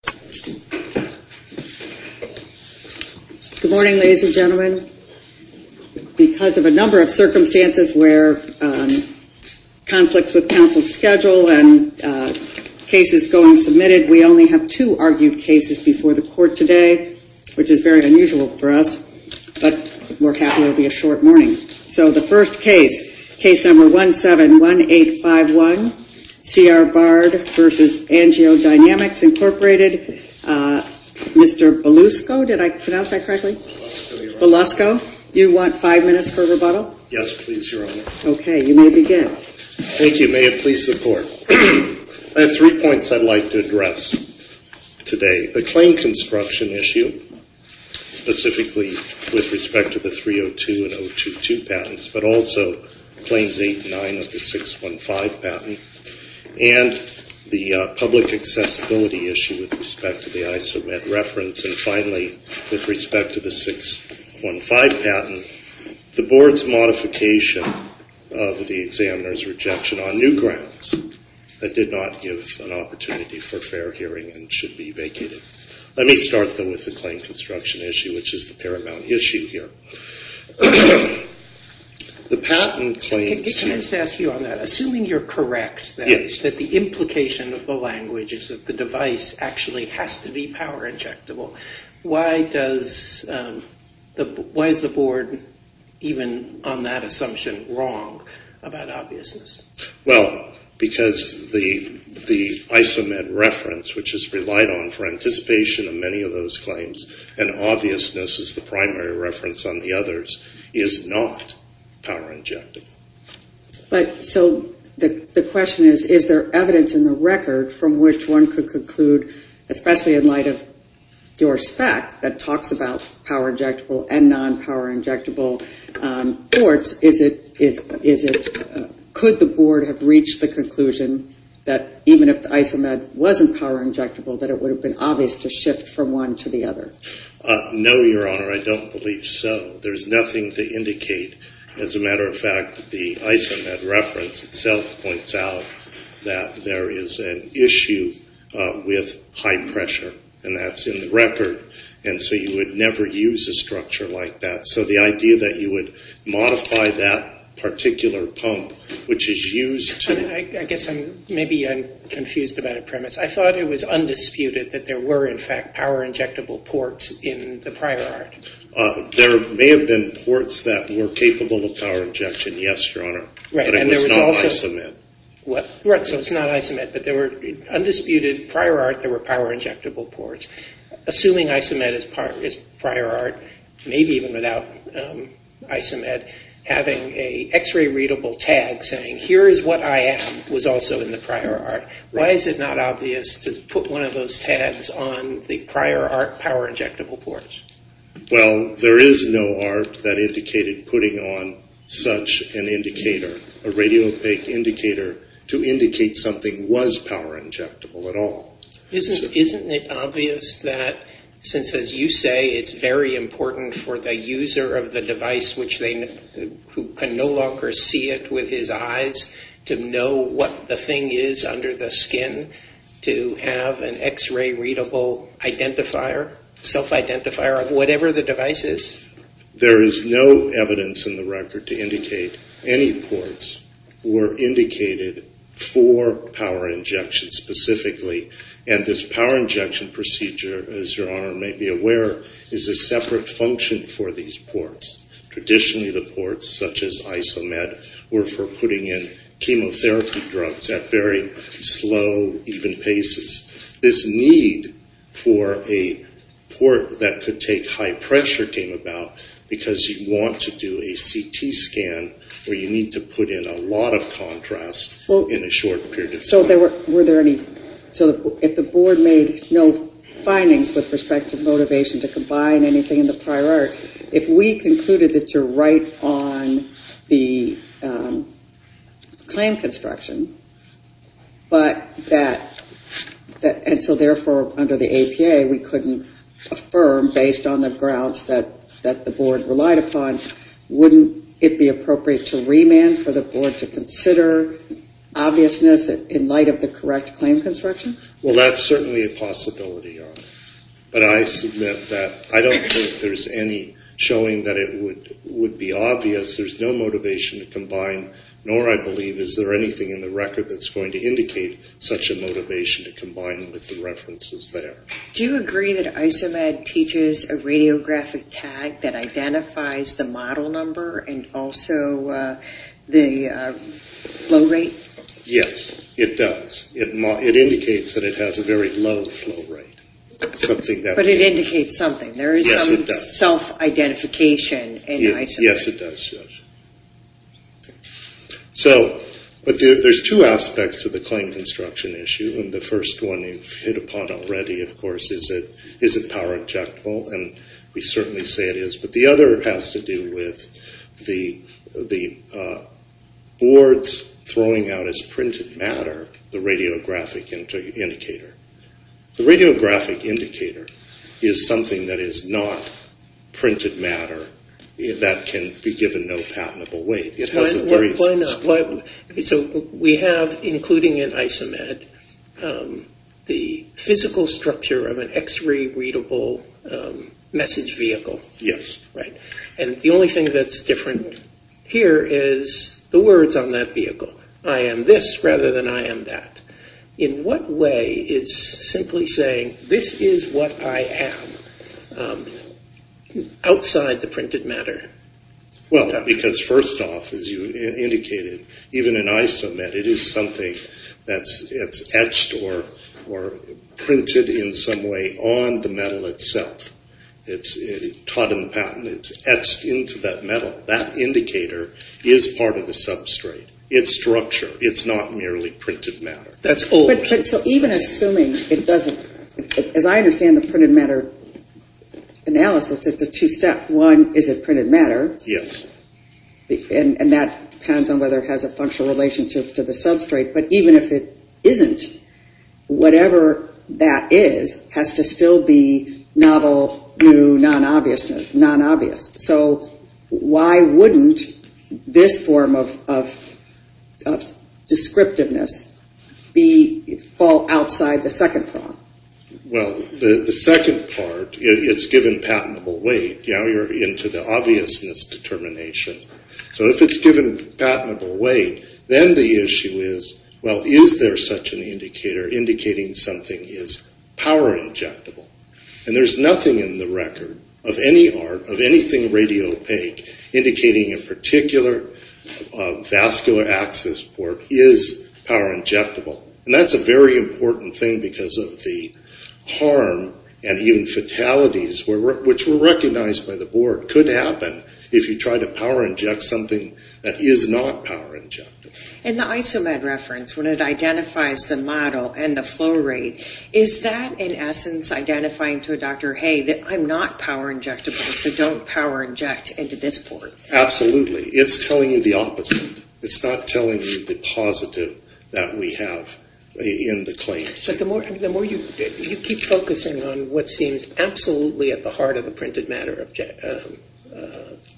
Good morning, ladies and gentlemen. Because of a number of circumstances where conflicts with counsel's schedule and cases going submitted, we only have two argued cases before the court today, which is very unusual for us, but we're happy it'll be a short morning. So the first case, Case No. 171851, C.R. Bard v. Angiodynamics, Inc., Mr. Belusco, did I pronounce that correctly? Belusco. You want five minutes for rebuttal? Yes, please, Your Honor. Okay, you may begin. Thank you. May it please the Court. I have three points I'd like to address today. The claim construction issue, specifically with respect to the 302 and 022 patents, but also Claims 8 and 9 of the 615 patent, and the public accessibility issue with respect to the ISO-ED reference, and finally, with respect to the 615 patent, the Board's modification of the examiner's rejection on new grounds did not give an opportunity for fair hearing and should be vacated. Let me start, though, with the claim construction issue, which is the paramount issue here. The patent claims... Can I just ask you on that? Assuming you're correct that the implication of the language is that the device actually has to be power injectable, why is the Board, even on that assumption, wrong about obviousness? Well, because the ISO-ED reference, which is relied on for anticipation of many of those claims, and obviousness is the primary reference on the others, is not power injectable. But, so, the question is, is there evidence in the record from which one could conclude, especially in light of your spec that talks about power injectable and non-power injectable boards, could the Board have reached the conclusion that even if the ISO-ED wasn't power injectable, that it would have been obvious to shift from one to the other? No, Your Honor, I don't believe so. There's nothing to indicate. As a matter of fact, the ISO-ED reference itself points out that there is an issue with high pressure, and that's in the record, and so you would never use a structure like that. So the idea that you would modify that particular pump, which is used to... I guess maybe I'm confused about a premise. I thought it was undisputed that there were, in fact, power injectable ports in the prior art. There may have been ports that were capable of power injection, yes, Your Honor, but it was not ISO-ED. Right, so it's not ISO-ED, but there were, undisputed, prior art, there were power injectable ports. Assuming ISO-ED is prior art, maybe even without ISO-ED, having an x-ray readable tag saying, here is what I am, was also in the prior art. Why is it not obvious to put one of those tags on the prior art power injectable ports? Well, there is no art that indicated putting on such an indicator, a radio-update indicator, to indicate something was power injectable at all. Isn't it obvious that, since, as you say, it's very important for the user of the device, who can no longer see it with his eyes, to know what the thing is under the skin, to have an x-ray readable identifier, self-identifier of whatever the device is? There is no evidence in the record to indicate any ports were indicated for power injection, specifically, and this power injection procedure, as your Honor may be aware, is a separate function for these ports. Traditionally, the ports, such as ISO-ED, were for putting in chemotherapy drugs at very slow, even paces. This need for a port that could take high pressure came about because you want to do a CT scan where you need to put in a lot of contrast in a short period of time. So if the board made no findings with respect to motivation to combine anything in the prior art, if we concluded that you're right on the claim construction, and so therefore, under the APA, we couldn't affirm, based on the grounds that the board relied upon, wouldn't it be appropriate to remand for the board to consider obviousness in light of the correct claim construction? Well, that's certainly a possibility, Your Honor. But I submit that I don't think there's any showing that it would be obvious. There's no motivation to combine, nor, I believe, is there anything in the record that's going to indicate such a motivation to combine with the references there. Do you agree that ISO-ED teaches a radiographic tag that identifies the model number and also the flow rate? Yes, it does. It indicates that it has a very low flow rate. But it indicates something. There is some self-identification in ISO-ED. Yes, it does, Judge. So, there's two aspects to the claim construction issue, and the first one you've hit upon already, of course, is it power-objectable? And we certainly say it is. But the other has to do with the board's throwing out as printed matter the radiographic indicator. The radiographic indicator is something that is not printed matter that can be given no patentable weight. Why not? So, we have, including in ISO-ED, the physical structure of an x-ray readable message vehicle. Yes. And the only thing that's different here is the words on that vehicle. I am this rather than I am that. In what way is simply saying, this is what I am, outside the printed matter? Well, because first off, as you indicated, even in ISO-ED, it is something that's etched or printed in some way on the metal itself. It's taught in the patent. It's etched into that metal. That indicator is part of the substrate. It's structure. It's not merely printed matter. That's old. Even assuming it doesn't, as I understand the printed matter analysis, it's a two-step. One, is it printed matter? Yes. And that depends on whether it has a functional relationship to the substrate. But even if it isn't, whatever that is has to still be novel, new, non-obvious. So why wouldn't this form of descriptiveness fall outside the second prong? Well, the second part, it's given patentable weight. Now you're into the obviousness determination. So if it's given patentable weight, then the issue is, well, is there such an indicator indicating something is power injectable? And there's nothing in the record of any art, of anything radiopaque, indicating a particular vascular access port is power injectable. And that's a very important thing because of the harm and even fatalities, which were recognized by the board, could happen if you try to power inject something that is not power injectable. In the ISO-ED reference, when it identifies the model and the flow rate, is that, in essence, identifying to a doctor, hey, I'm not power injectable, so don't power inject into this port? Absolutely. It's telling you the opposite. It's not telling you the positive that we have in the claims. But the more you keep focusing on what seems absolutely at the heart of the printed matter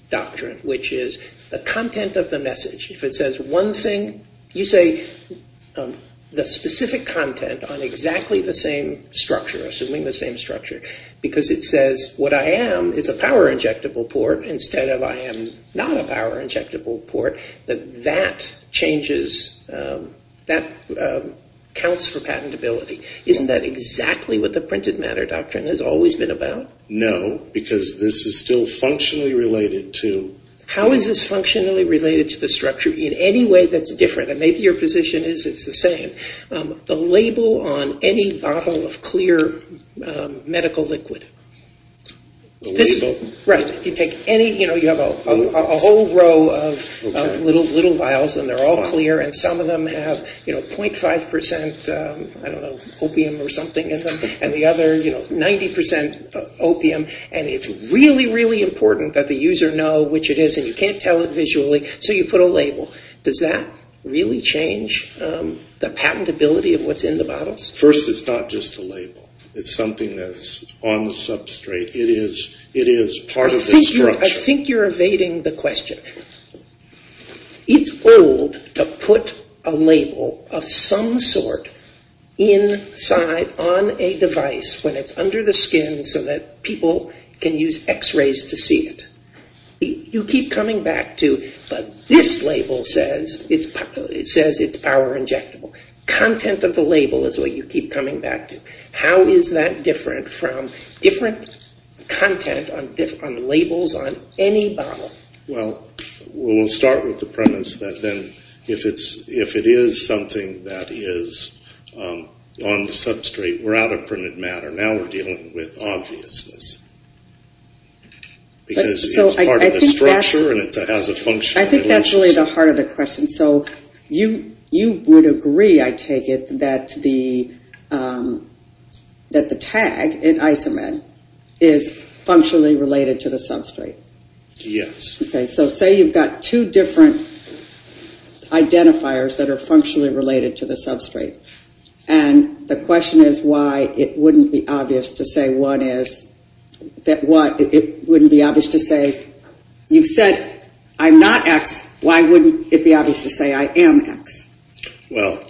doctrine, which is the content of the message. If it says one thing, you say the specific content on exactly the same structure, assuming the same structure, because it says what I am is a power injectable port, instead of I am not a power injectable port, that that changes, that counts for patentability. Isn't that exactly what the printed matter doctrine has always been about? No, because this is still functionally related to... In any way that's different, and maybe your position is it's the same, the label on any bottle of clear medical liquid... The label? Right. You take any... You have a whole row of little vials, and they're all clear, and some of them have 0.5% opium or something in them, and the other, 90% opium, and it's really, really important that the user know which it is, and you can't tell it visually, so you put a label. Does that really change the patentability of what's in the bottles? First, it's not just a label. It's something that's on the substrate. It is part of the structure. I think you're evading the question. It's old to put a label of some sort inside on a device when it's under the skin so that people can use x-rays to see it. You keep coming back to, but this label says it's power injectable. Content of the label is what you keep coming back to. How is that different from different content on labels on any bottle? Well, we'll start with the premise that then, if it is something that is on the substrate, we're out of printed matter. Now we're dealing with obviousness. Because it's part of the structure and it has a functional relationship. I think that's really the heart of the question. So you would agree, I take it, that the tag in isometh is functionally related to the substrate? Yes. Okay, so say you've got two different identifiers that are functionally related to the substrate, and the question is why it wouldn't be obvious to say one is that what, it wouldn't be obvious to say, you've said I'm not x, why wouldn't it be obvious to say I am x? Well,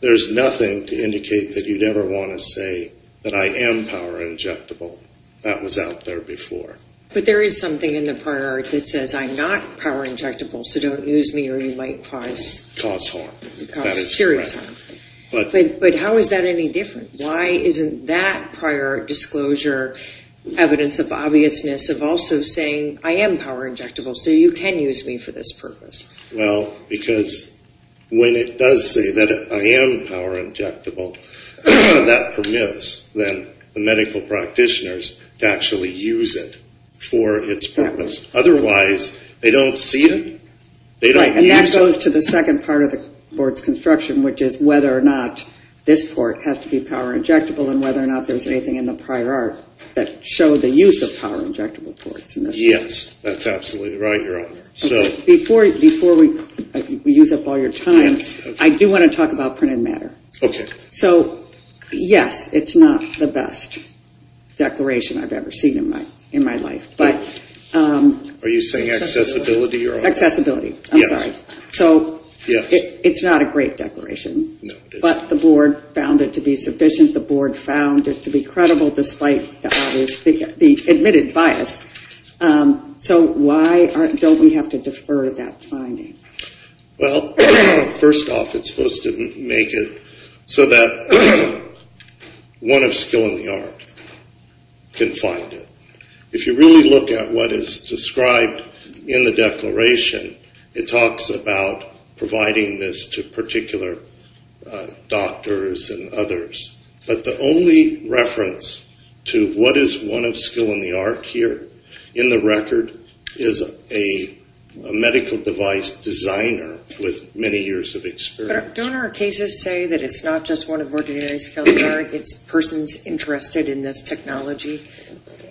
there's nothing to indicate that you'd ever want to say that I am power injectable. That was out there before. But there is something in the prior that says I'm not power injectable, so don't use me or you might cause... Cause harm. Cause serious harm. But how is that any different? Why isn't that prior disclosure evidence of obviousness of also saying I am power injectable, so you can use me for this purpose? Well, because when it does say that I am power injectable, that permits then the medical practitioners to actually use it for its purpose. Otherwise, they don't see it. And that goes to the second part of the board's construction, which is whether or not this port has to be power injectable and whether or not there's anything in the prior art that showed the use of power injectable ports. Yes, that's absolutely right, Your Honor. Before we use up all your time, I do want to talk about printed matter. So, yes, it's not the best declaration I've ever seen in my life. Are you saying accessibility, Your Honor? Accessibility, I'm sorry. So, it's not a great declaration. No, it isn't. But the board found it to be sufficient. The board found it to be credible despite the admitted bias. So why don't we have to defer that finding? Well, first off, it's supposed to make it so that one of skill in the art can find it. If you really look at what is described in the declaration, it talks about providing this to particular doctors and others. But the only reference to what is one of skill in the art here in the record is a medical device designer with many years of experience. But don't our cases say that it's not just one of ordinary skill in the art, it's persons interested in this technology?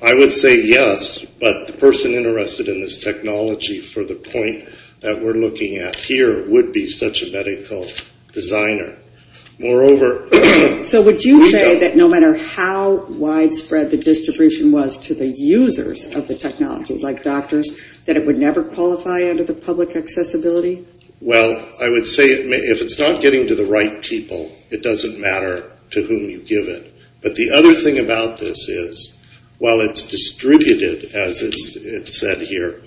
I would say yes, but the person interested in this technology for the point that we're looking at here would be such a medical designer. Moreover... So would you say that no matter how widespread the distribution was to the users of the technology, like doctors, that it would never qualify under the public accessibility? Well, I would say if it's not getting to the right people, it doesn't matter to whom you give it. But the other thing about this is, while it's distributed, as it's said here,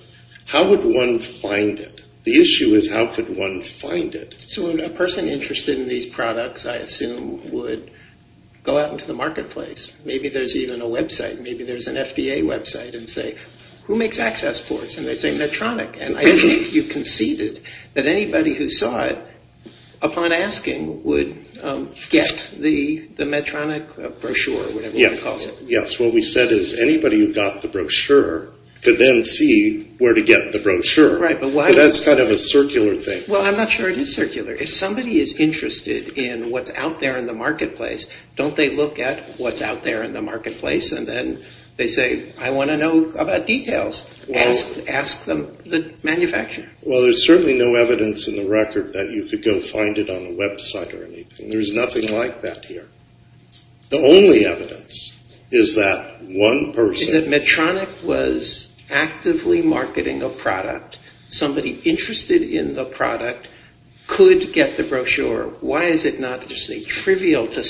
how would one find it? The issue is how could one find it? So a person interested in these products, I assume, would go out into the marketplace. Maybe there's even a website, maybe there's an FDA website, and say, who makes access boards? And they say Medtronic. And I think you conceded that anybody who saw it, upon asking, would get the Medtronic brochure, whatever you call it. Yes, what we said is anybody who got the brochure could then see where to get the brochure. But that's kind of a circular thing. Well, I'm not sure it is circular. If somebody is interested in what's out there in the marketplace, don't they look at what's out there in the marketplace and then they say, I want to know about details. Ask the manufacturer. Well, there's certainly no evidence in the record that you could go find it on a website or anything. There's nothing like that here. The only evidence is that one person... Is that Medtronic was actively marketing a product. Somebody interested in the product could get the brochure. Why is it not trivial to...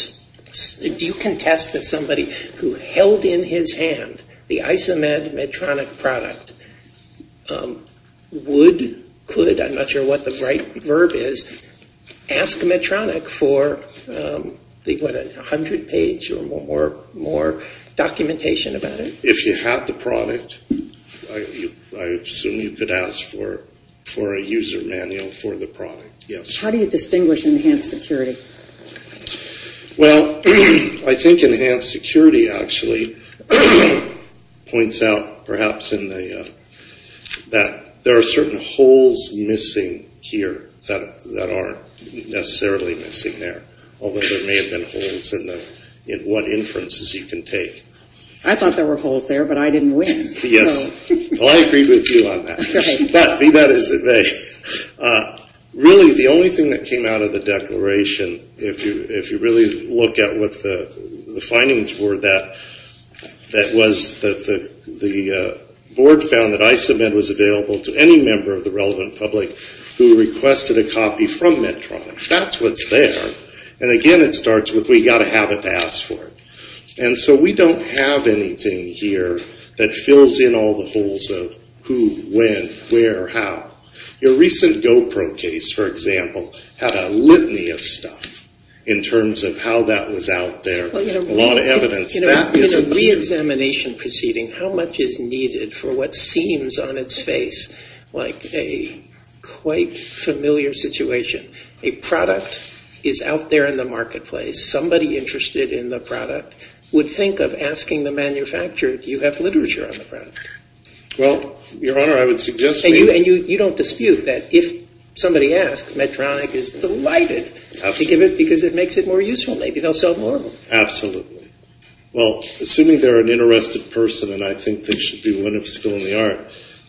Do you contest that somebody who held in his hand the Isomed Medtronic product would, could, I'm not sure what the right verb is, ask Medtronic for, what, a hundred page or more documentation about it? If you have the product, I assume you could ask for a user manual for the product. Yes. How do you distinguish enhanced security? Well, I think enhanced security actually points out, perhaps, that there are certain holes missing here that aren't necessarily missing there. Although there may have been holes in what inferences you can take. I thought there were holes there, but I didn't win. Yes. Well, I agreed with you on that. Be that as it may. Really, the only thing that came out of the declaration, if you really look at what the findings were, that was that the board found that Isomed was available to any member of the relevant public who requested a copy from Medtronic. That's what's there. And again, it starts with, we've got to have it to ask for it. And so we don't have anything here that fills in all the holes of who, when, where, how. Your recent GoPro case, for example, had a litany of stuff in terms of how that was out there. A lot of evidence. In a re-examination proceeding, how much is needed for what seems on its face like a quite familiar situation? A product is out there in the marketplace. Somebody interested in the product would think of asking the manufacturer, do you have literature on the product? Well, Your Honor, I would suggest... And you don't dispute that if somebody asks, Medtronic is delighted to give it because it makes it more useful. Maybe they'll sell more of them. Absolutely. Well, assuming they're an interested person, and I think they should be, when it's still in the art,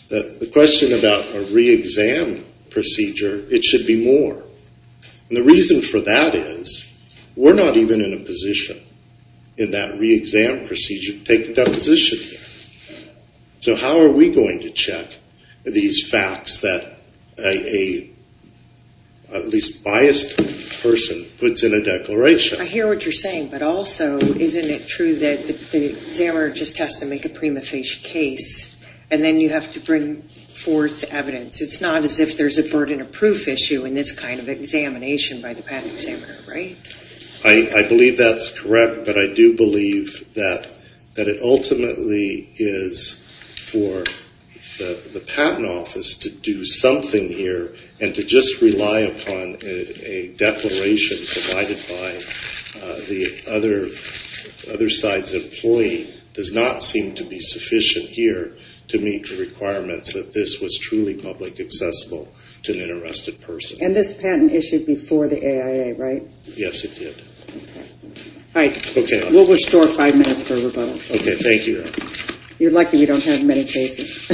the question about a re-exam procedure, it should be more. And the reason for that is, we're not even in a position in that re-exam procedure to take the deposition here. So how are we going to check these facts that a, at least biased person, puts in a declaration? I hear what you're saying, but also, isn't it true that the examiner just has to make a prima facie case, and then you have to bring forth evidence? It's not as if there's a burden of proof issue in this kind of examination by the patent examiner, right? I believe that's correct, but I do believe that it ultimately is for the patent office to do something here and to just rely upon a declaration provided by the other side's employee does not seem to be sufficient here to meet the requirements that this was truly public accessible to an arrested person. And this patent issued before the AIA, right? Yes, it did. We'll restore five minutes for rebuttal. Okay, thank you. You're lucky we don't have many cases.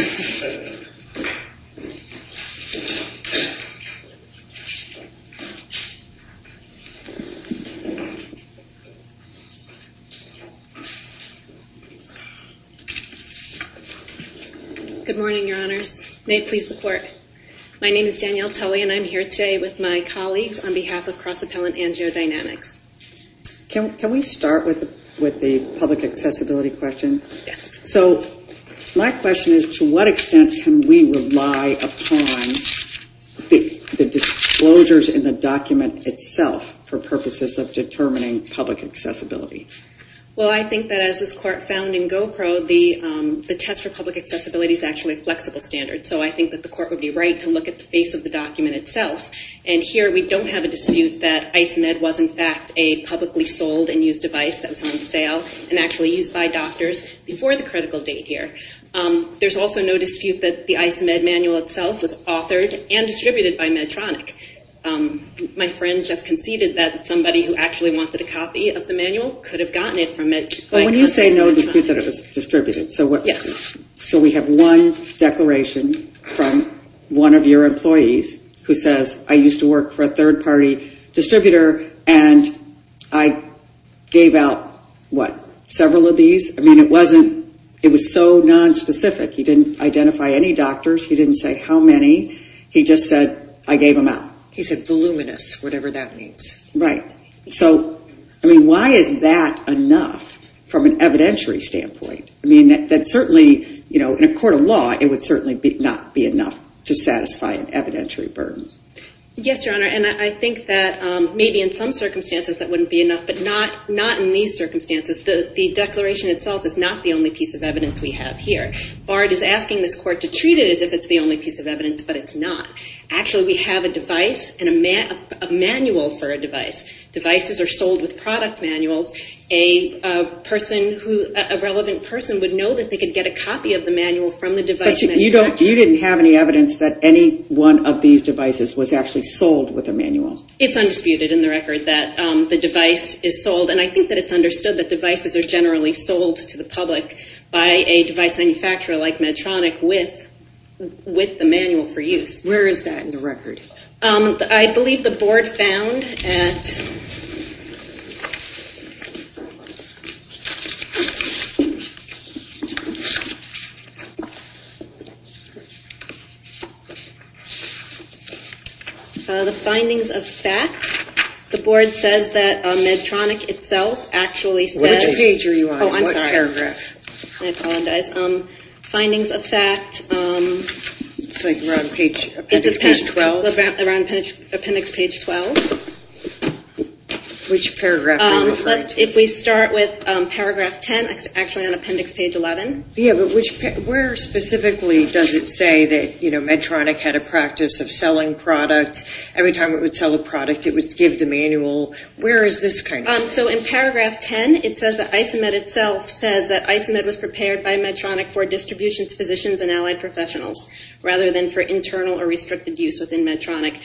Good morning, your honors. May it please the court. My name is Danielle Tully, and I'm here today with my colleagues on behalf of Cross Appellant Angiodynamics. Can we start with the public accessibility question? Yes. So, my question is, to what extent can we rely upon the disclosures in the document itself for purposes of determining public accessibility? Well, I think that as this court found in Gopro, the test for public accessibility is actually a flexible standard. So I think that the court would be right to look at the face of the document itself. And here, we don't have a dispute that IceMed was in fact a publicly sold and used device that was on sale and actually used by doctors before the critical date here. There's also no dispute that the IceMed manual itself was authored and distributed by Medtronic. My friend just conceded that somebody who actually wanted a copy of the manual could have gotten it from Medtronic. But when you say no dispute that it was distributed. Yes. So we have one declaration from one of your employees who says, I used to work for a third party distributor and I gave out what, several of these? It was so nonspecific. He didn't identify any doctors. He didn't say how many. He just said, I gave them out. He said voluminous, whatever that means. Right. Why is that enough from an evidentiary standpoint? Certainly, in a court of law it would certainly not be enough to satisfy an evidentiary burden. Yes, Your Honor, and I think that maybe in some circumstances that wouldn't be enough, but not in these circumstances. The declaration itself is not the only piece of evidence we have here. BARD is asking this court to treat it as if it's the only piece of evidence, but it's not. Actually, we have a device and a manual for a device. Devices are sold with product manuals. A relevant person would know that they could get a copy of the manual from the device manufacturer. But you didn't have any evidence that any one of these devices was actually sold with a manual. It's undisputed in the record that the device is sold, and I think that it's understood that devices are generally sold to the public by a device manufacturer like Medtronic with the manual for use. Where is that in the record? I believe the board found at the findings of fact. The board says that Medtronic itself actually said... Which page are you on? What paragraph? I apologize. Findings of fact. It's around appendix page 12. Appendix page 12. Which paragraph? If we start with paragraph 10, actually on appendix page 11. Where specifically does it say that Medtronic had a practice of selling products. Every time it would sell a product, it would give the manual. Where is this kind of stuff? In paragraph 10, it says that ISOMED itself says that ISOMED was prepared by Medtronic for distribution to physicians and allied professionals rather than for internal or restricted use within Medtronic.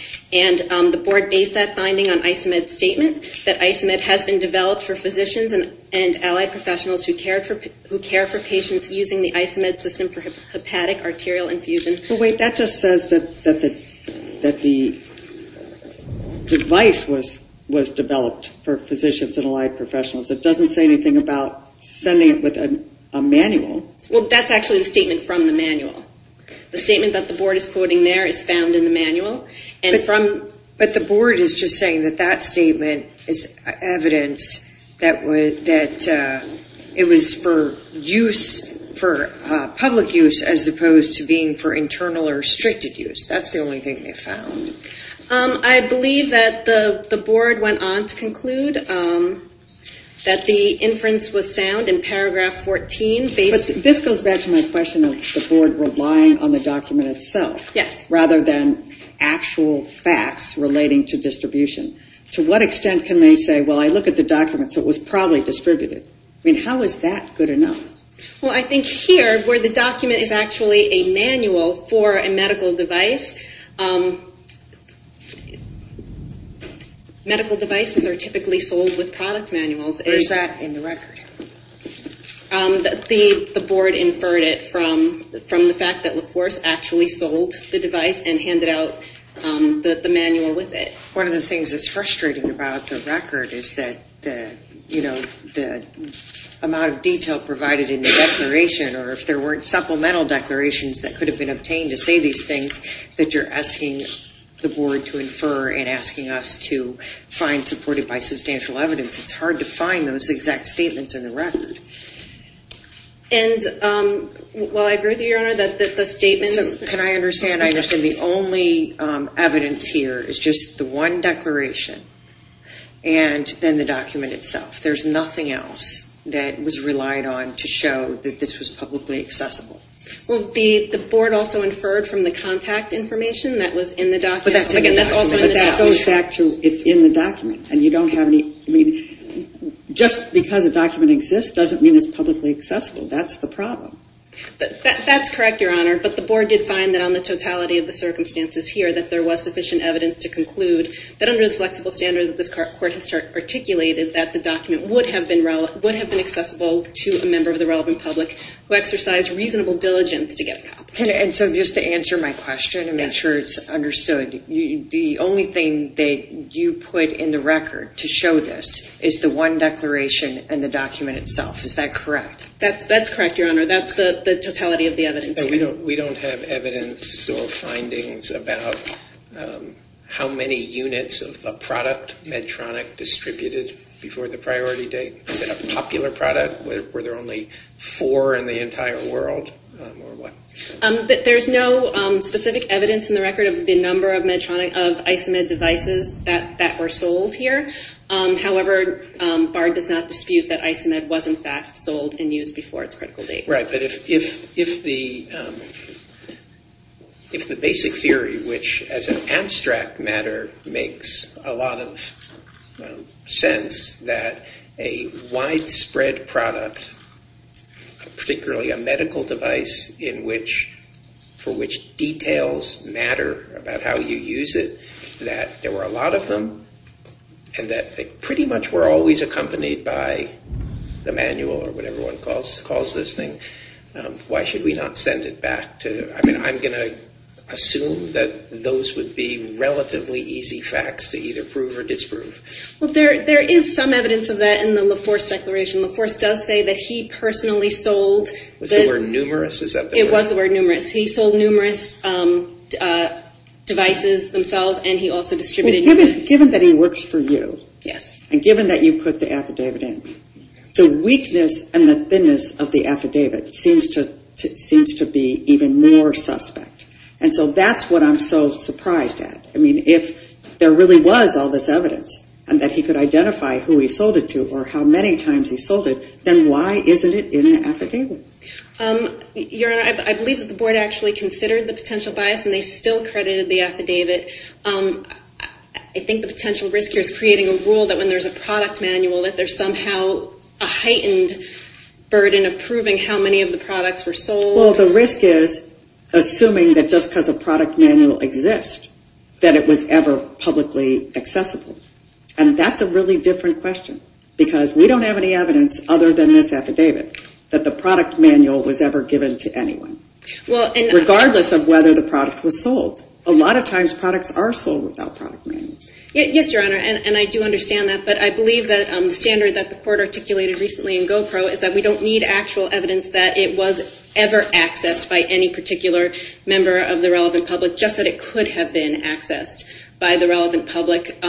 The board based that finding on ISOMED's statement that ISOMED has been developed for physicians and allied professionals who care for patients using the ISOMED system for hepatic arterial infusion. That just says that the device was developed for physicians and allied professionals. It doesn't say anything about sending it with a manual. That's actually the statement from the manual. The statement that the board is quoting there is found in the manual. But the board is just saying that that statement is evidence that it was for use for public use as opposed to being for internal or restricted use. That's the only thing they found. I believe that the board went on to conclude that the board was relying on the document itself rather than actual facts relating to distribution. To what extent can they say, I look at the document so it was probably distributed. How is that good enough? I think here where the document is actually a manual for a medical device, medical devices are typically sold with product manuals. Where is that in the record? The board inferred it from the fact that LaForce actually sold the device and handed out the manual with it. One of the things that's frustrating about the record is that the amount of detail provided in the declaration or if there weren't supplemental declarations that could have been obtained to say these things, that you're asking the board to infer and asking us to find supported by those exact statements in the record. And while I agree with you, your honor, that the statements... So can I understand, I understand the only evidence here is just the one declaration and then the document itself. There's nothing else that was relied on to show that this was publicly accessible. Well the board also inferred from the contact information that was in the document. But that goes back to it's in the document and you don't have any... I mean just because a document exists doesn't mean it's publicly accessible. That's the problem. That's correct, your honor. But the board did find that on the totality of the circumstances here that there was sufficient evidence to conclude that under the flexible standard that this court has articulated that the document would have been accessible to a member of the relevant public who exercised reasonable diligence to get a copy. And so just to answer my question and make sure it's understood the only thing that you put in the record to show this is the one declaration and the document itself. Is that correct? That's correct, your honor. That's the totality of the evidence here. We don't have evidence or findings about how many units of the product Medtronic distributed before the priority date. Is it a popular product? Were there only four in the entire world? There's no specific evidence in the record of the number of isomid devices that were sold here. However, Bard does not dispute that isomid was in fact sold and used before its critical date. Right, but if the basic theory which as an abstract matter makes a lot of sense that a widespread product particularly a medical device in which for which details matter about how you use it that there were a lot of them and that they pretty much were always accompanied by the manual or whatever one calls this thing why should we not send it back? I mean, I'm going to assume that those would be relatively easy facts to either prove or disprove. Well, there is some evidence of that in the LaForce declaration. LaForce does say that he personally sold... Was the word numerous? It was the word numerous. He sold numerous devices themselves and he also distributed... Given that he works for you and given that you put the affidavit in, the weakness and the thinness of the affidavit seems to be even more suspect. And so that's what I'm so surprised at. I mean, if there really was all this evidence and that he could identify who he sold it to or how many times he sold it, then why isn't it in the affidavit? Your Honor, I believe that the board actually considered the potential bias and they still credited the affidavit. I think the potential risk here is creating a rule that when there's a product manual that there's somehow a heightened burden of proving how many of the products were sold. Well, the risk is assuming that just because a product manual exists that it was ever publicly accessible. And that's a really different question because we don't have any evidence other than this affidavit that the product manual was ever given to anyone. Regardless of whether the product was sold. A lot of times products are sold without product manuals. Yes, Your Honor, and I do understand that, but I believe that the standard that the court articulated recently in GOPRO is that we don't need actual evidence that it was ever accessed by any particular member of the relevant public, just that it could have been accessed by the relevant public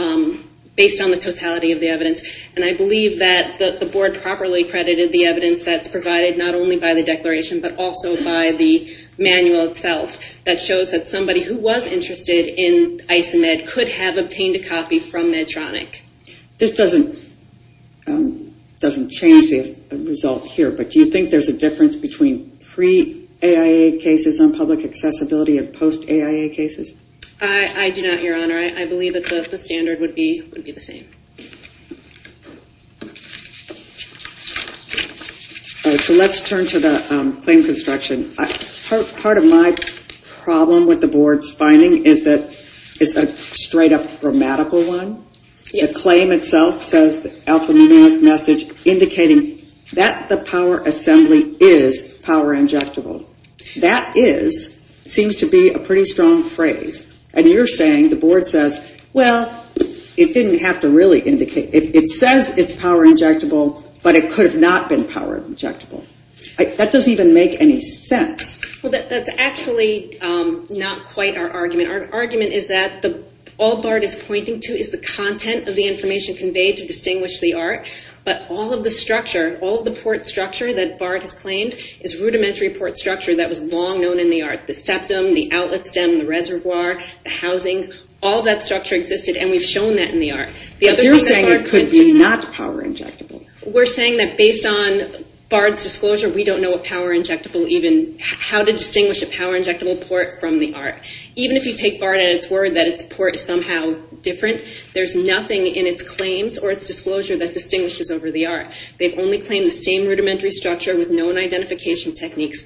based on the totality of the evidence. And I believe that the board properly credited the evidence that's provided not only by the declaration, but also by the manual itself that shows that somebody who was interested in Isomed could have obtained a copy from Medtronic. This doesn't change the result here, but do you think there's a difference between pre AIA cases and public accessibility of post AIA cases? I do not, Your Honor. I believe that the standard would be the same. So let's turn to the claim construction. Part of my problem with the board's finding is that it's a straight up grammatical one. The claim itself says the alphanumeric message indicating that the power assembly is power injectable. That is seems to be a pretty strong phrase. And you're saying the board says, well, it didn't have to really indicate. It says it's power injectable, but it could have not been power injectable. That doesn't even make any sense. Well, that's actually not quite our argument. Our argument is that all BART is pointing to is the content of the information conveyed to distinguish the art, but all of the structure, all of the port structure that BART has claimed is rudimentary port structure that was long known in the art. The septum, the outlet stem, the reservoir, the housing, all that structure existed, and we've shown that in BART, it's actually not power injectable. We're saying that based on BART's disclosure, we don't know what power injectable even, how to distinguish a power injectable port from the art. Even if you take BART at its word that its port is somehow different, there's nothing in its claims or its disclosure that distinguishes over the art. They've only claimed the same rudimentary structure with known identification techniques.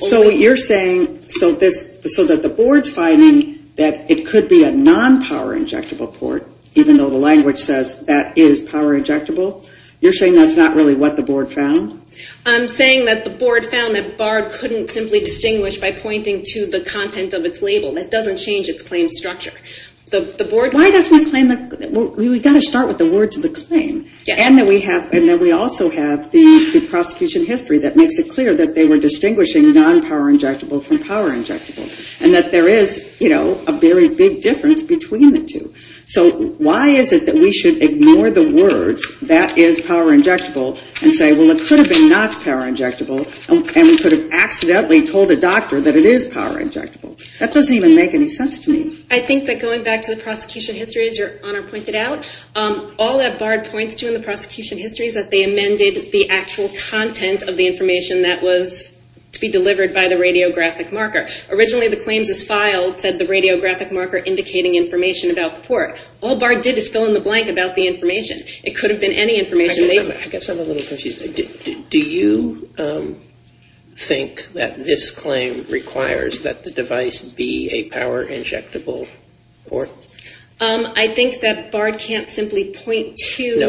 So what you're saying, so that the board's finding that it could be a non-power injectable port, even though the language says that is power injectable, you're saying that's not really what the board found? I'm saying that the board found that BART couldn't simply distinguish by pointing to the content of its label. That doesn't change its claim structure. The board Why doesn't it claim that? We've got to start with the words of the claim, and that we also have the prosecution history that makes it clear that they were distinguishing non-power injectable from power injectable, and that there is, you know, a very big difference between the two. So why is it that we should ignore the words that is power injectable and say, well it could have been not power injectable and we could have accidentally told a doctor that it is power injectable? That doesn't even make any sense to me. I think that going back to the prosecution history as your Honor pointed out, all that BART points to in the prosecution history is that they amended the actual content of the information that was to be delivered by the radiographic marker. Originally the claims as filed said the radiographic marker indicating information about the port. All BART did is fill in the blank about the information. It could have been any information. I guess I'm a little confused. Do you think that this claim requires that the device be a power injectable port? I think that BART can't simply point to the...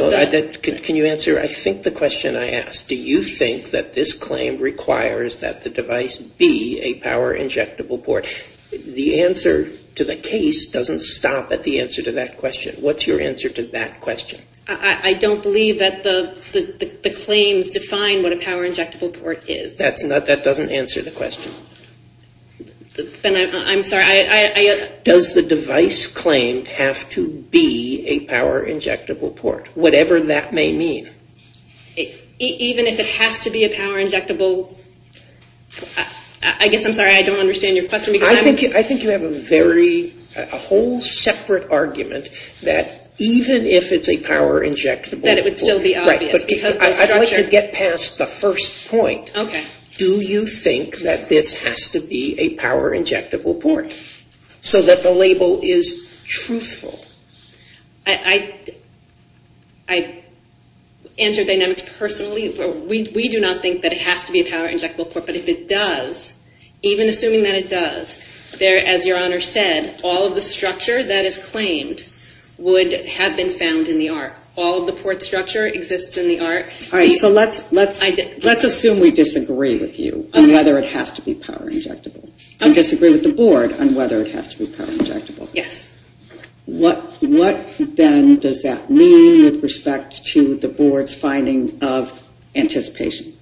No, can you answer I think the question I asked. Do you think that this claim requires that the device be a power injectable port? The answer to the case doesn't stop at the answer to that question. What's your answer to that question? I don't believe that the claims define what a power injectable port is. That doesn't answer the question. Then I'm sorry. Does the device claim have to be a power injectable port? Whatever that may mean. Even if it has to be a power injectable... I guess I'm sorry. I don't understand your question. I think you have a very whole separate argument that even if it's a power injectable... That it would still be obvious. I'd like to get past the first point. Do you think that this has to be a power injectable port? So that the label is truthful. I answer Dynamics personally. We do not think that it has to be a power injectable port. But if it does, even assuming that it does, as your Honor said, all of the structure that is claimed would have been found in the art. All of the port structure exists in the art. Let's assume we disagree with you on whether it has to be power injectable. Disagree with the Board on whether it has to be power injectable. What then does that mean with respect to the Board's finding of anticipation?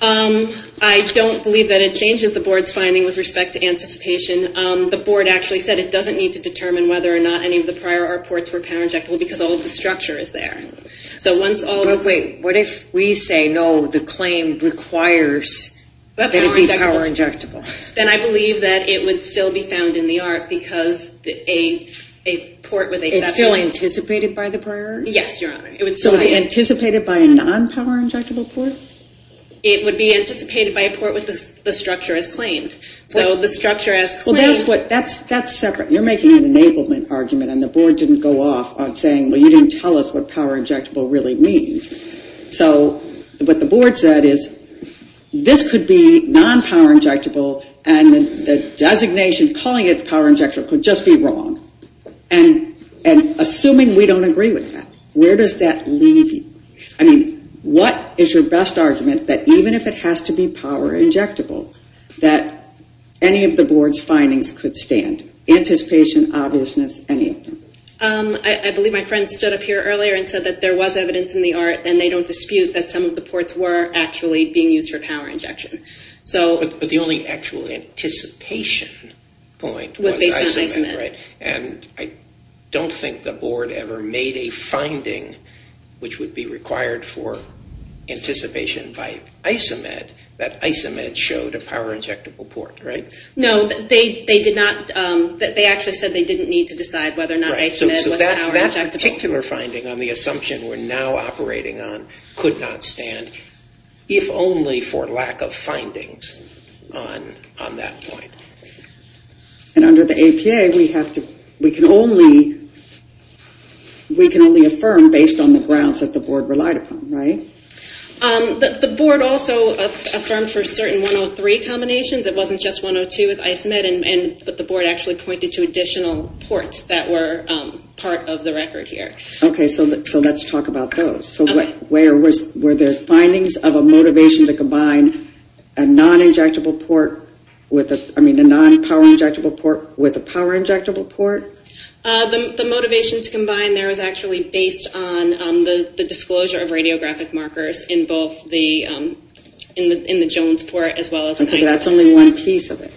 I don't believe that it changes the Board's finding with respect to anticipation. The Board actually said it doesn't need to determine whether or not any of the prior art ports were power injectable because all of the structure is there. But wait, what if we say no, the claim requires that it be power injectable? Then I believe that it would still be found in the art because a port with a separate... It's still anticipated by the anticipated by a non-power injectable port? It would be anticipated by a port with the structure as claimed. So the structure as claimed... That's separate. You're making an enablement argument and the Board didn't go off on saying, well you didn't tell us what power injectable really means. So what the Board said is this could be non-power injectable and the designation calling it power injectable could just be wrong. And assuming we don't agree with that, where does that leave you? I mean, what is your best argument that even if it has to be power injectable, that any of the Board's findings could stand? Anticipation, obviousness, any of them? I believe my friend stood up here earlier and said that there was evidence in the art and they don't dispute that some of the ports were actually being used for power injection. But the only actual anticipation point was... And I don't think the Board ever made a finding which would be required for anticipation by ISOMED that ISOMED showed a power injectable port, right? No, they did not. They actually said they didn't need to decide whether or not ISOMED was power injectable. So that particular finding on the assumption we're now operating on could not stand if only for lack of findings on that point. And under the APA we have to... We can only affirm based on the grounds that the Board relied upon, right? The Board also affirmed for certain 103 combinations. It wasn't just 102 with ISOMED, but the Board actually pointed to additional ports that were part of the record here. Okay, so let's talk about those. So were there findings of a motivation to combine a non-injectable port with a... I mean a non-power injectable port with a power injectable port? The motivation to combine there is actually based on the disclosure of radiographic markers in both the... in the Jones port as well as... Okay, but that's only one piece of it.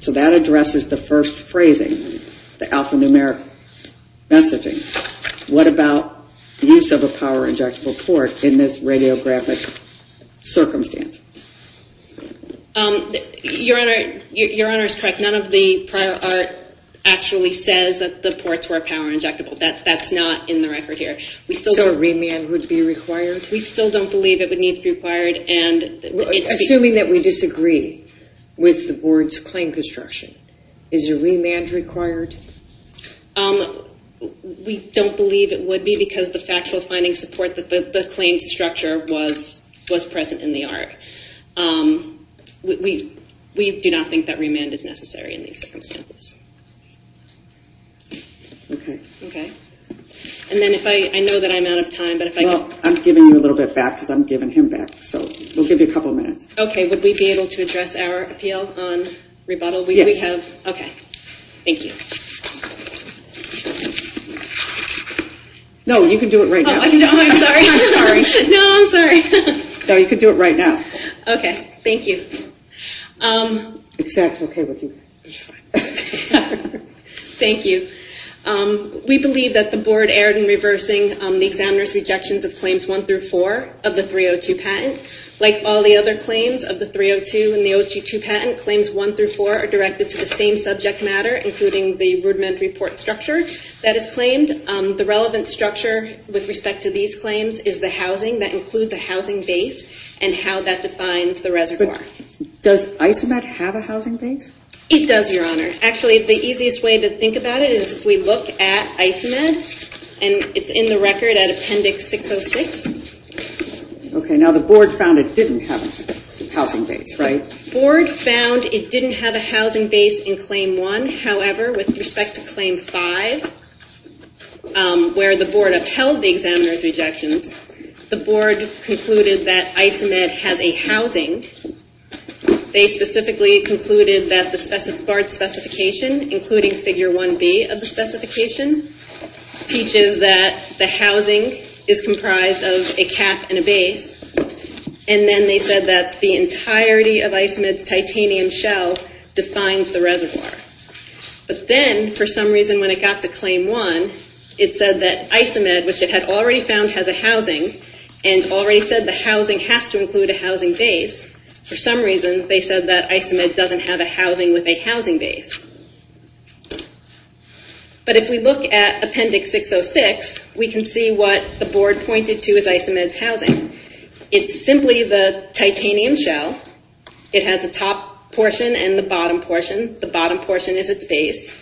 So that addresses the first phrasing, the alphanumeric messaging. What about use of a power injectable port in this radiographic circumstance? Your Honor, Your Honor is correct. None of the prior art actually says that the ports were power injectable. That's not in the record here. So a remand would be required? We still don't believe it would need to be required. Assuming that we disagree with the Board's claim construction, is a remand required? We don't believe it would be because the factual findings support that the claim structure was present in the art. We do not think that remand is necessary in these circumstances. Okay. And then if I... I know that I'm out of time, but if I can... Well, I'm giving you a little bit back because I'm giving him back. So we'll give you a couple minutes. Okay, would we be able to address our appeal on rebuttal? Yes. Okay, thank you. No, you can do it right now. I'm sorry. No, I'm sorry. No, you can do it right now. Okay, thank you. Is that okay with you? Thank you. We believe that the Board erred in reversing the examiner's rejections of claims 1 through 4 of the 302 patent. Like all the other claims of the 302 and the 022 patent, claims 1 through 4 are directed to the same subject matter, including the rudimentary port structure that is claimed. The relevant structure with respect to these claims is the housing that includes a housing base and how that defines the reservoir. Does ISOMED have a housing base? It does, Your Honor. Actually the easiest way to think about it is if we look at ISOMED and it's in the record at Appendix 606. Okay, now the Board found it didn't have a housing base, right? Board found it didn't have a housing base in claim 1. However, with respect to claim 5, where the Board upheld the examiner's rejections, the Board concluded that ISOMED has a housing. They specifically concluded that the Board's specification, including Figure 1B of the specification, teaches that the housing is comprised of a cap and a base. And then they said that the entirety of ISOMED's titanium shell defines the reservoir. But then, for some reason, when it got to claim 1, it said that ISOMED, which it had already found, has a housing and already said the housing has to include a housing base. For some reason, they said that ISOMED doesn't have a housing with a housing base. But if we look at Appendix 606, we can see what the Board pointed to as ISOMED's housing. It's simply the titanium shell. It has a top portion and the bottom portion. The bottom portion is its base.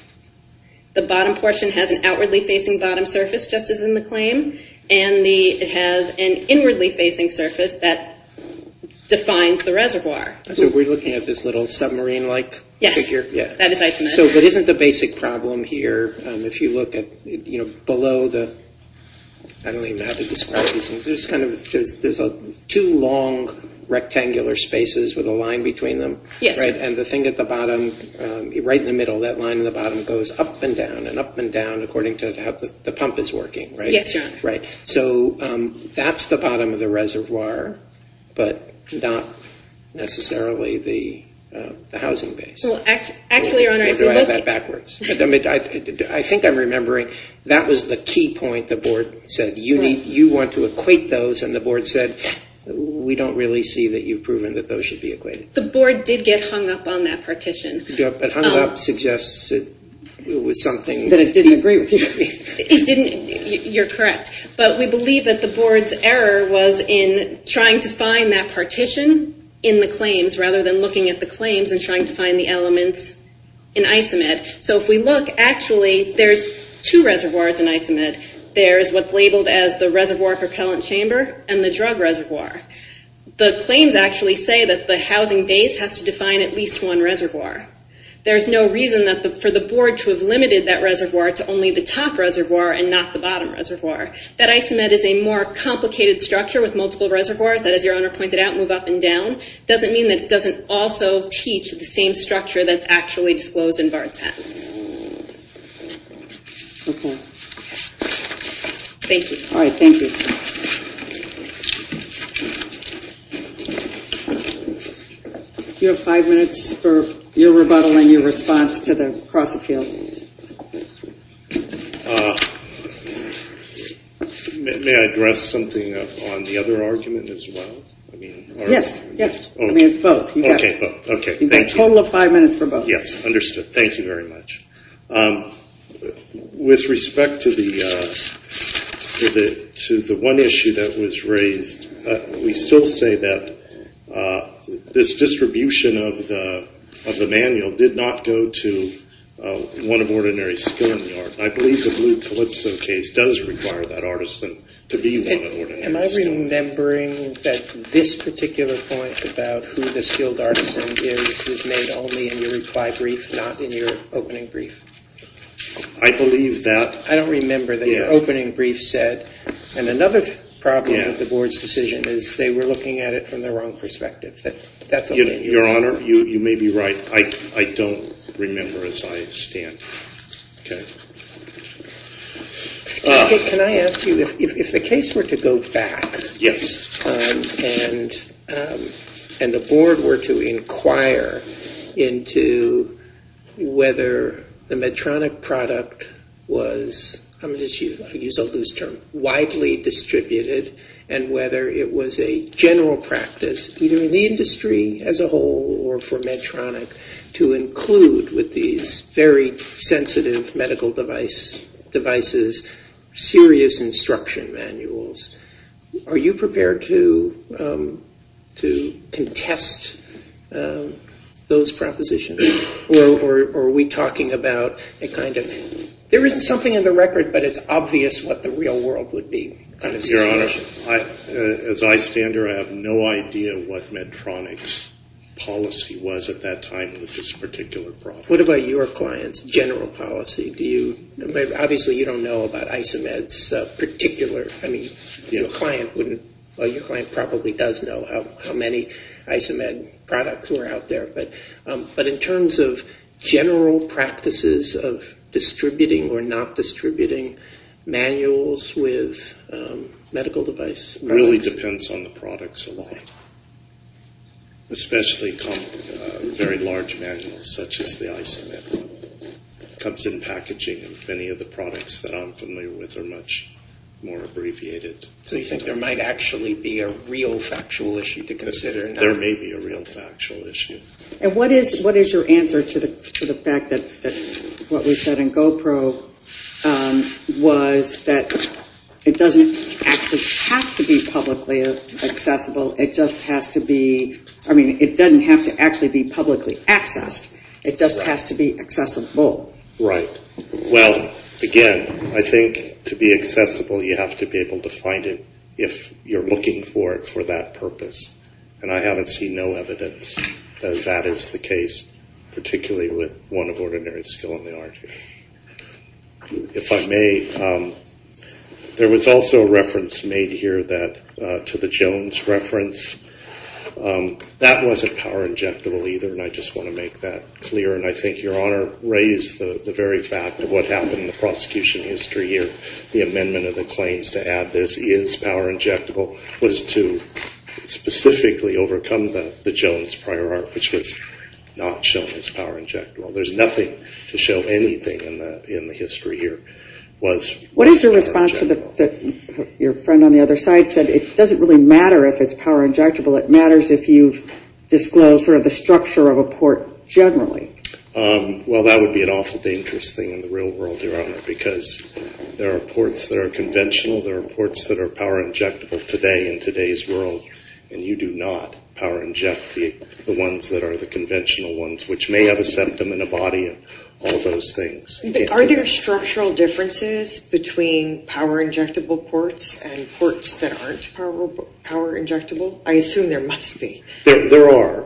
The bottom portion has an outwardly facing bottom surface, just as in the claim. And it has an inwardly facing surface that defines the reservoir. So we're looking at this little submarine-like figure? Yes, that is ISOMED. But isn't the basic problem here, if you look at below the... I don't even know how to describe these things. There's two long rectangular spaces with a line between them. And the thing at the bottom, right in the middle, that line in the bottom, goes up and down and up and down according to how the pump is working. So that's the bottom of the reservoir, but not necessarily the housing base. Or do I have that backwards? I think I'm remembering that was the key point the Board said, you want to equate those, and the Board said, we don't really see that you've proven that those should be equated. The Board did get hung up on that partition. But hung up suggests it was something... That it didn't agree with you. It didn't. You're correct. But we believe that the Board's error was in trying to find that partition in the claims, rather than looking at the claims and trying to find the elements in ISOMED. So if we look, actually, there's two reservoirs in ISOMED. There's what's labeled as the Reservoir Propellant Chamber, and the Drug Reservoir. The claims actually say that the housing base has to define at least one reservoir. There's no reason for the Board to have limited that reservoir to only the top reservoir and not the bottom reservoir. That ISOMED is a more complicated structure with multiple reservoirs that, as your owner pointed out, move up and down, doesn't mean that it doesn't also teach the same structure that's actually disclosed in BARD's patents. Thank you. You have five minutes for your rebuttal and your response to the cross-appeal. May I address something on the other argument as well? Yes, yes. I mean, it's both. You have a total of five minutes for both. Yes, understood. Thank you very much. With respect to the one issue that was raised, we still say that this distribution of the manual did not go to one of ordinary skilled in the art. I believe the Blue Calypso case does require that artisan to be one of ordinary skilled. Am I remembering that this particular point about who the skilled artisan is, is made only in your reply brief, not in your opening brief? I believe that I don't remember that your opening brief said, and another problem with the Board's decision is they were looking at it from the wrong perspective. Your Honor, you may be right. I don't remember as I stand. Can I ask you, if the case were to go back and the Board were to inquire into whether the Medtronic product was, I'm going to use a loose term, widely distributed and whether it was a general practice, either in the industry as a whole or for Medtronic, to include with these very sensitive medical devices serious instruction manuals, are you prepared to contest those propositions? Or are we talking about a kind of, there isn't something in the record, but it's obvious what the real world would be. Your Honor, as I stand here, I have no idea what Medtronic's policy was at that time with this particular problem. What about your client's general policy? Do you, obviously you don't know about Isomed's particular, I mean, your client wouldn't, your client probably does know how many Isomed products were out there, but in terms of general practices of distributing or not distributing manuals with medical devices? It really depends on the products a lot. Especially very large manuals, such as the Isomed comes in packaging and many of the products that I'm familiar with are much more abbreviated. So you think there might actually be a real factual issue to consider? There may be a real factual issue. And what is your answer to the fact that what was said in GoPro was that it doesn't actually have to be publicly accessible, it just has to be, I mean, it doesn't have to actually be publicly accessed, it just has to be accessible. Right. Well, again, I think to be accessible you have to be able to find it if you're looking for it for that purpose. And I haven't seen no evidence that that is the case particularly with one of ordinary skill in the art. If I may, there was also a reference made here that, to the Jones reference, that wasn't power injectable either and I just want to make that clear and I think Your Honor raised the very fact of what happened in the prosecution history here, the amendment of the claims to add this is power injectable was to specifically overcome the Jones prior art which was not shown as power injectable. There's nothing to show anything in the history here was power injectable. What is your response to your friend on the other side said it doesn't really matter if it's power injectable, it matters if you've disclosed sort of the structure of a port generally. Well that would be an awful dangerous thing in the real world Your Honor because there are ports that are conventional, there are ports that are power injectable today in today's world and you do not power inject the ones that are the conventional ones which may have a symptom in a body and all those things. Are there structural differences between power injectable ports and ports that aren't power injectable? I assume there must be. There are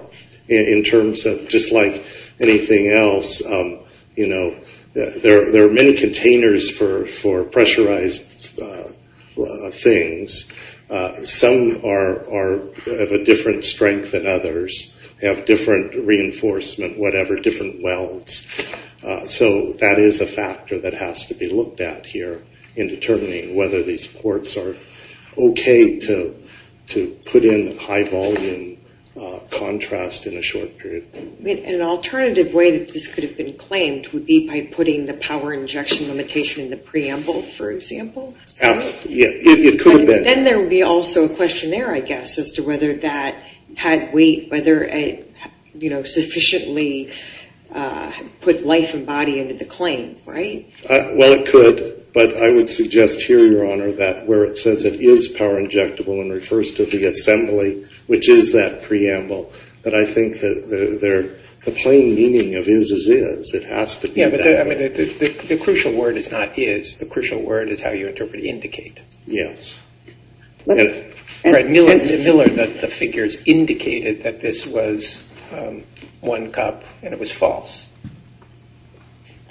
in terms of just like anything else you know, there are many containers for pressurized things some are of a different strength than others have different reinforcement whatever, different welds so that is a factor that has to be looked at here in determining whether these ports are okay to put in high volume contrast in a short period. An alternative way that this could have been claimed would be by putting the power injection limitation in the preamble for example? It could have been. Then there would be also a question there I guess as to whether that had weight whether it you know sufficiently put life and body into the claim, right? Well it could, but I would suggest here your honor that where it says it is power injectable and refers to the assembly which is that preamble, that I think the plain meaning of is is is, it has to be that way. The crucial word is not indicate. Yes Miller the figures indicated that this was one cup and it was false.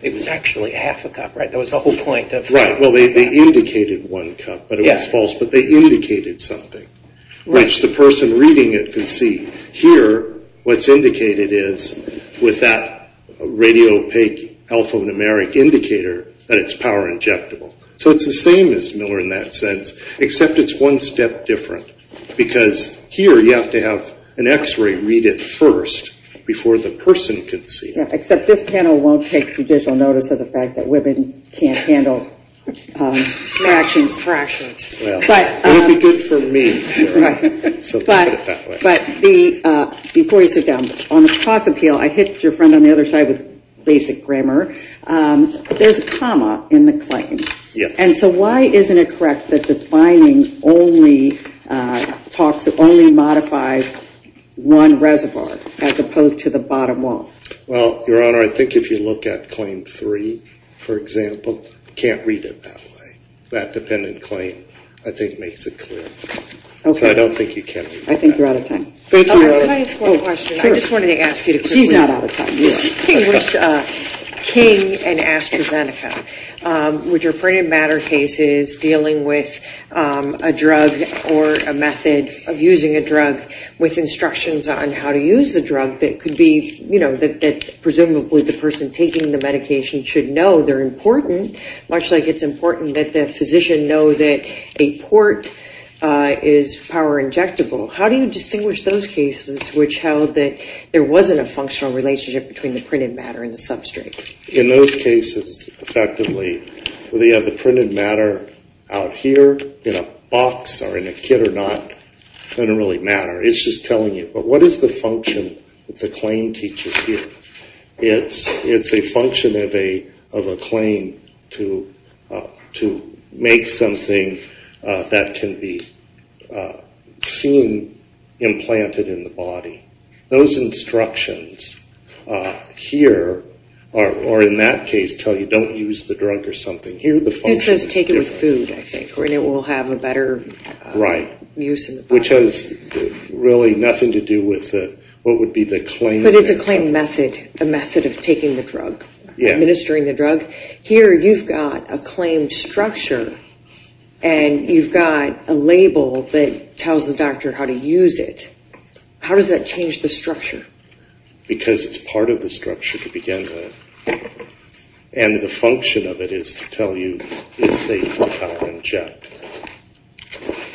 It was actually half a cup, right? That was the whole point of Right, well they indicated one cup but it was false, but they indicated something which the person reading it could see. Here, what's indicated is with that radio opaque alphanumeric indicator that it's power injectable. So it's the same as Miller in that sense, except it's one step different because here you have to have an x-ray read it first before the person could see it. Except this panel won't take judicial notice of the fact that women can't handle fractions. It would be good for me. But before you sit down on the cross appeal, I hit your friend on the other side with basic grammar there's a comma in the claim. And so why isn't it correct that defining only modifies one reservoir as opposed to the bottom wall? Well, your honor, I think if you look at claim three for example, can't read it that way. That dependent claim I think makes it clear. So I don't think you can read that. I think you're out of time. Thank you, your honor. Can I ask one question? I just wanted to ask you. She's not out of time. How do you distinguish King and AstraZeneca? Which are printed matter cases dealing with a drug or a method of using a drug with instructions on how to use the drug that could be you know, that presumably the person taking the medication should know they're important. Much like it's important that the physician know that a port is power injectable. How do you distinguish those cases which held that there wasn't a functional relationship between the printed matter and the substrate? In those cases, effectively whether you have the printed matter out here in a box or in a kit or not, doesn't really matter. It's just telling you. But what is the function that the claim teaches you? It's a function of a claim to make something that can be seen implanted in the body. Those instructions here are in that case tell you don't use the drug or something. It says take it with food I think and it will have a better use in the body. Which has really nothing to do with what would be the claim. But it's a claim method a method of taking the drug administering the drug. Here you've got a claim structure and you've got a label that tells the doctor how to use it. How does that change the structure? Because it's part of the structure to begin with. And the function of it is to tell you it's safe to power inject.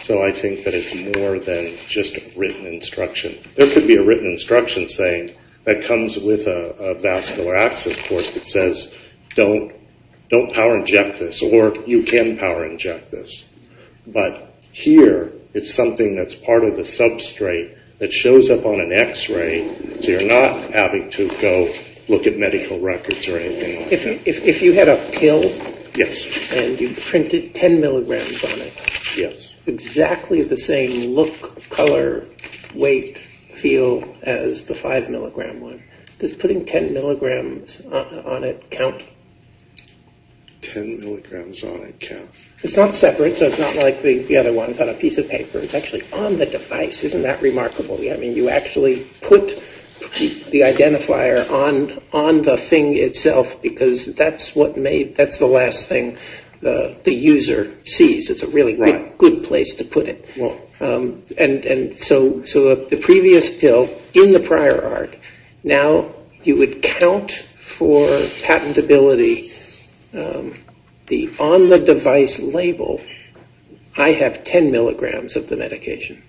So I think that it's more than just written instruction. There could be a written instruction saying that comes with a vascular access port that says don't power inject this or you can power inject this. But here it's something that's part of the substrate that shows up on an x-ray so you're not having to go look at medical records or anything like that. If you had a pill and you printed 10 mg on it exactly the same look, color, weight, feel as the 5 mg one. Does putting 10 mg on it count? 10 mg on it counts. It's not separate so it's not like the other ones on a piece of paper. It's actually on the device. Isn't that remarkable? You actually put the identifier on the thing itself because that's the last thing the user sees. It's a really good place to put it. And so the previous pill in the prior art, now you would count for patentability the on the device label I have 10 mg of the medication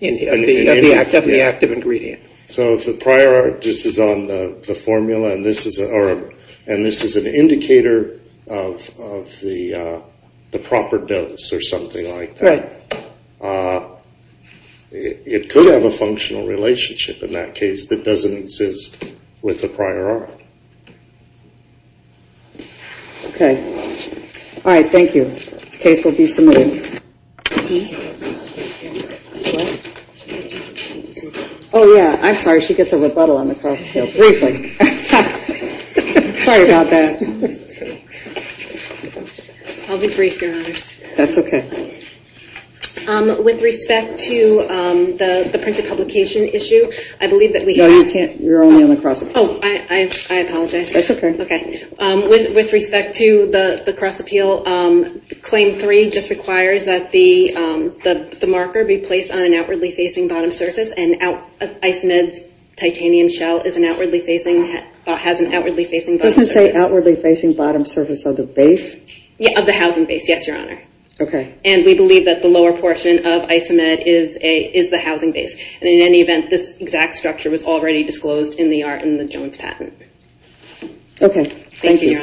of the active ingredient. So if the prior art is on the formula and this is an indicator of the proper dose or something like that it could have a functional relationship in that case that doesn't exist with the prior art. Okay. Alright, thank you. Case will be submitted. Oh yeah, I'm sorry, she gets a rebuttal on the cross appeal. Briefly. Sorry about that. I'll be brief, your honors. That's okay. With respect to the printed publication issue, I believe that we have... No, you can't. You're only on the cross appeal. Oh, I apologize. That's okay. With respect to the cross appeal, claim 3 just requires that the marker be placed on an outwardly facing bottom surface and Isomed's titanium shell has an outwardly facing bottom surface. Does it say outwardly facing bottom surface of the base? Of the housing base, yes, your honor. And we believe that the lower portion of Isomed is the housing base. And in any event, this exact structure was already disclosed in the Jones patent. Okay. Thank you, your honors.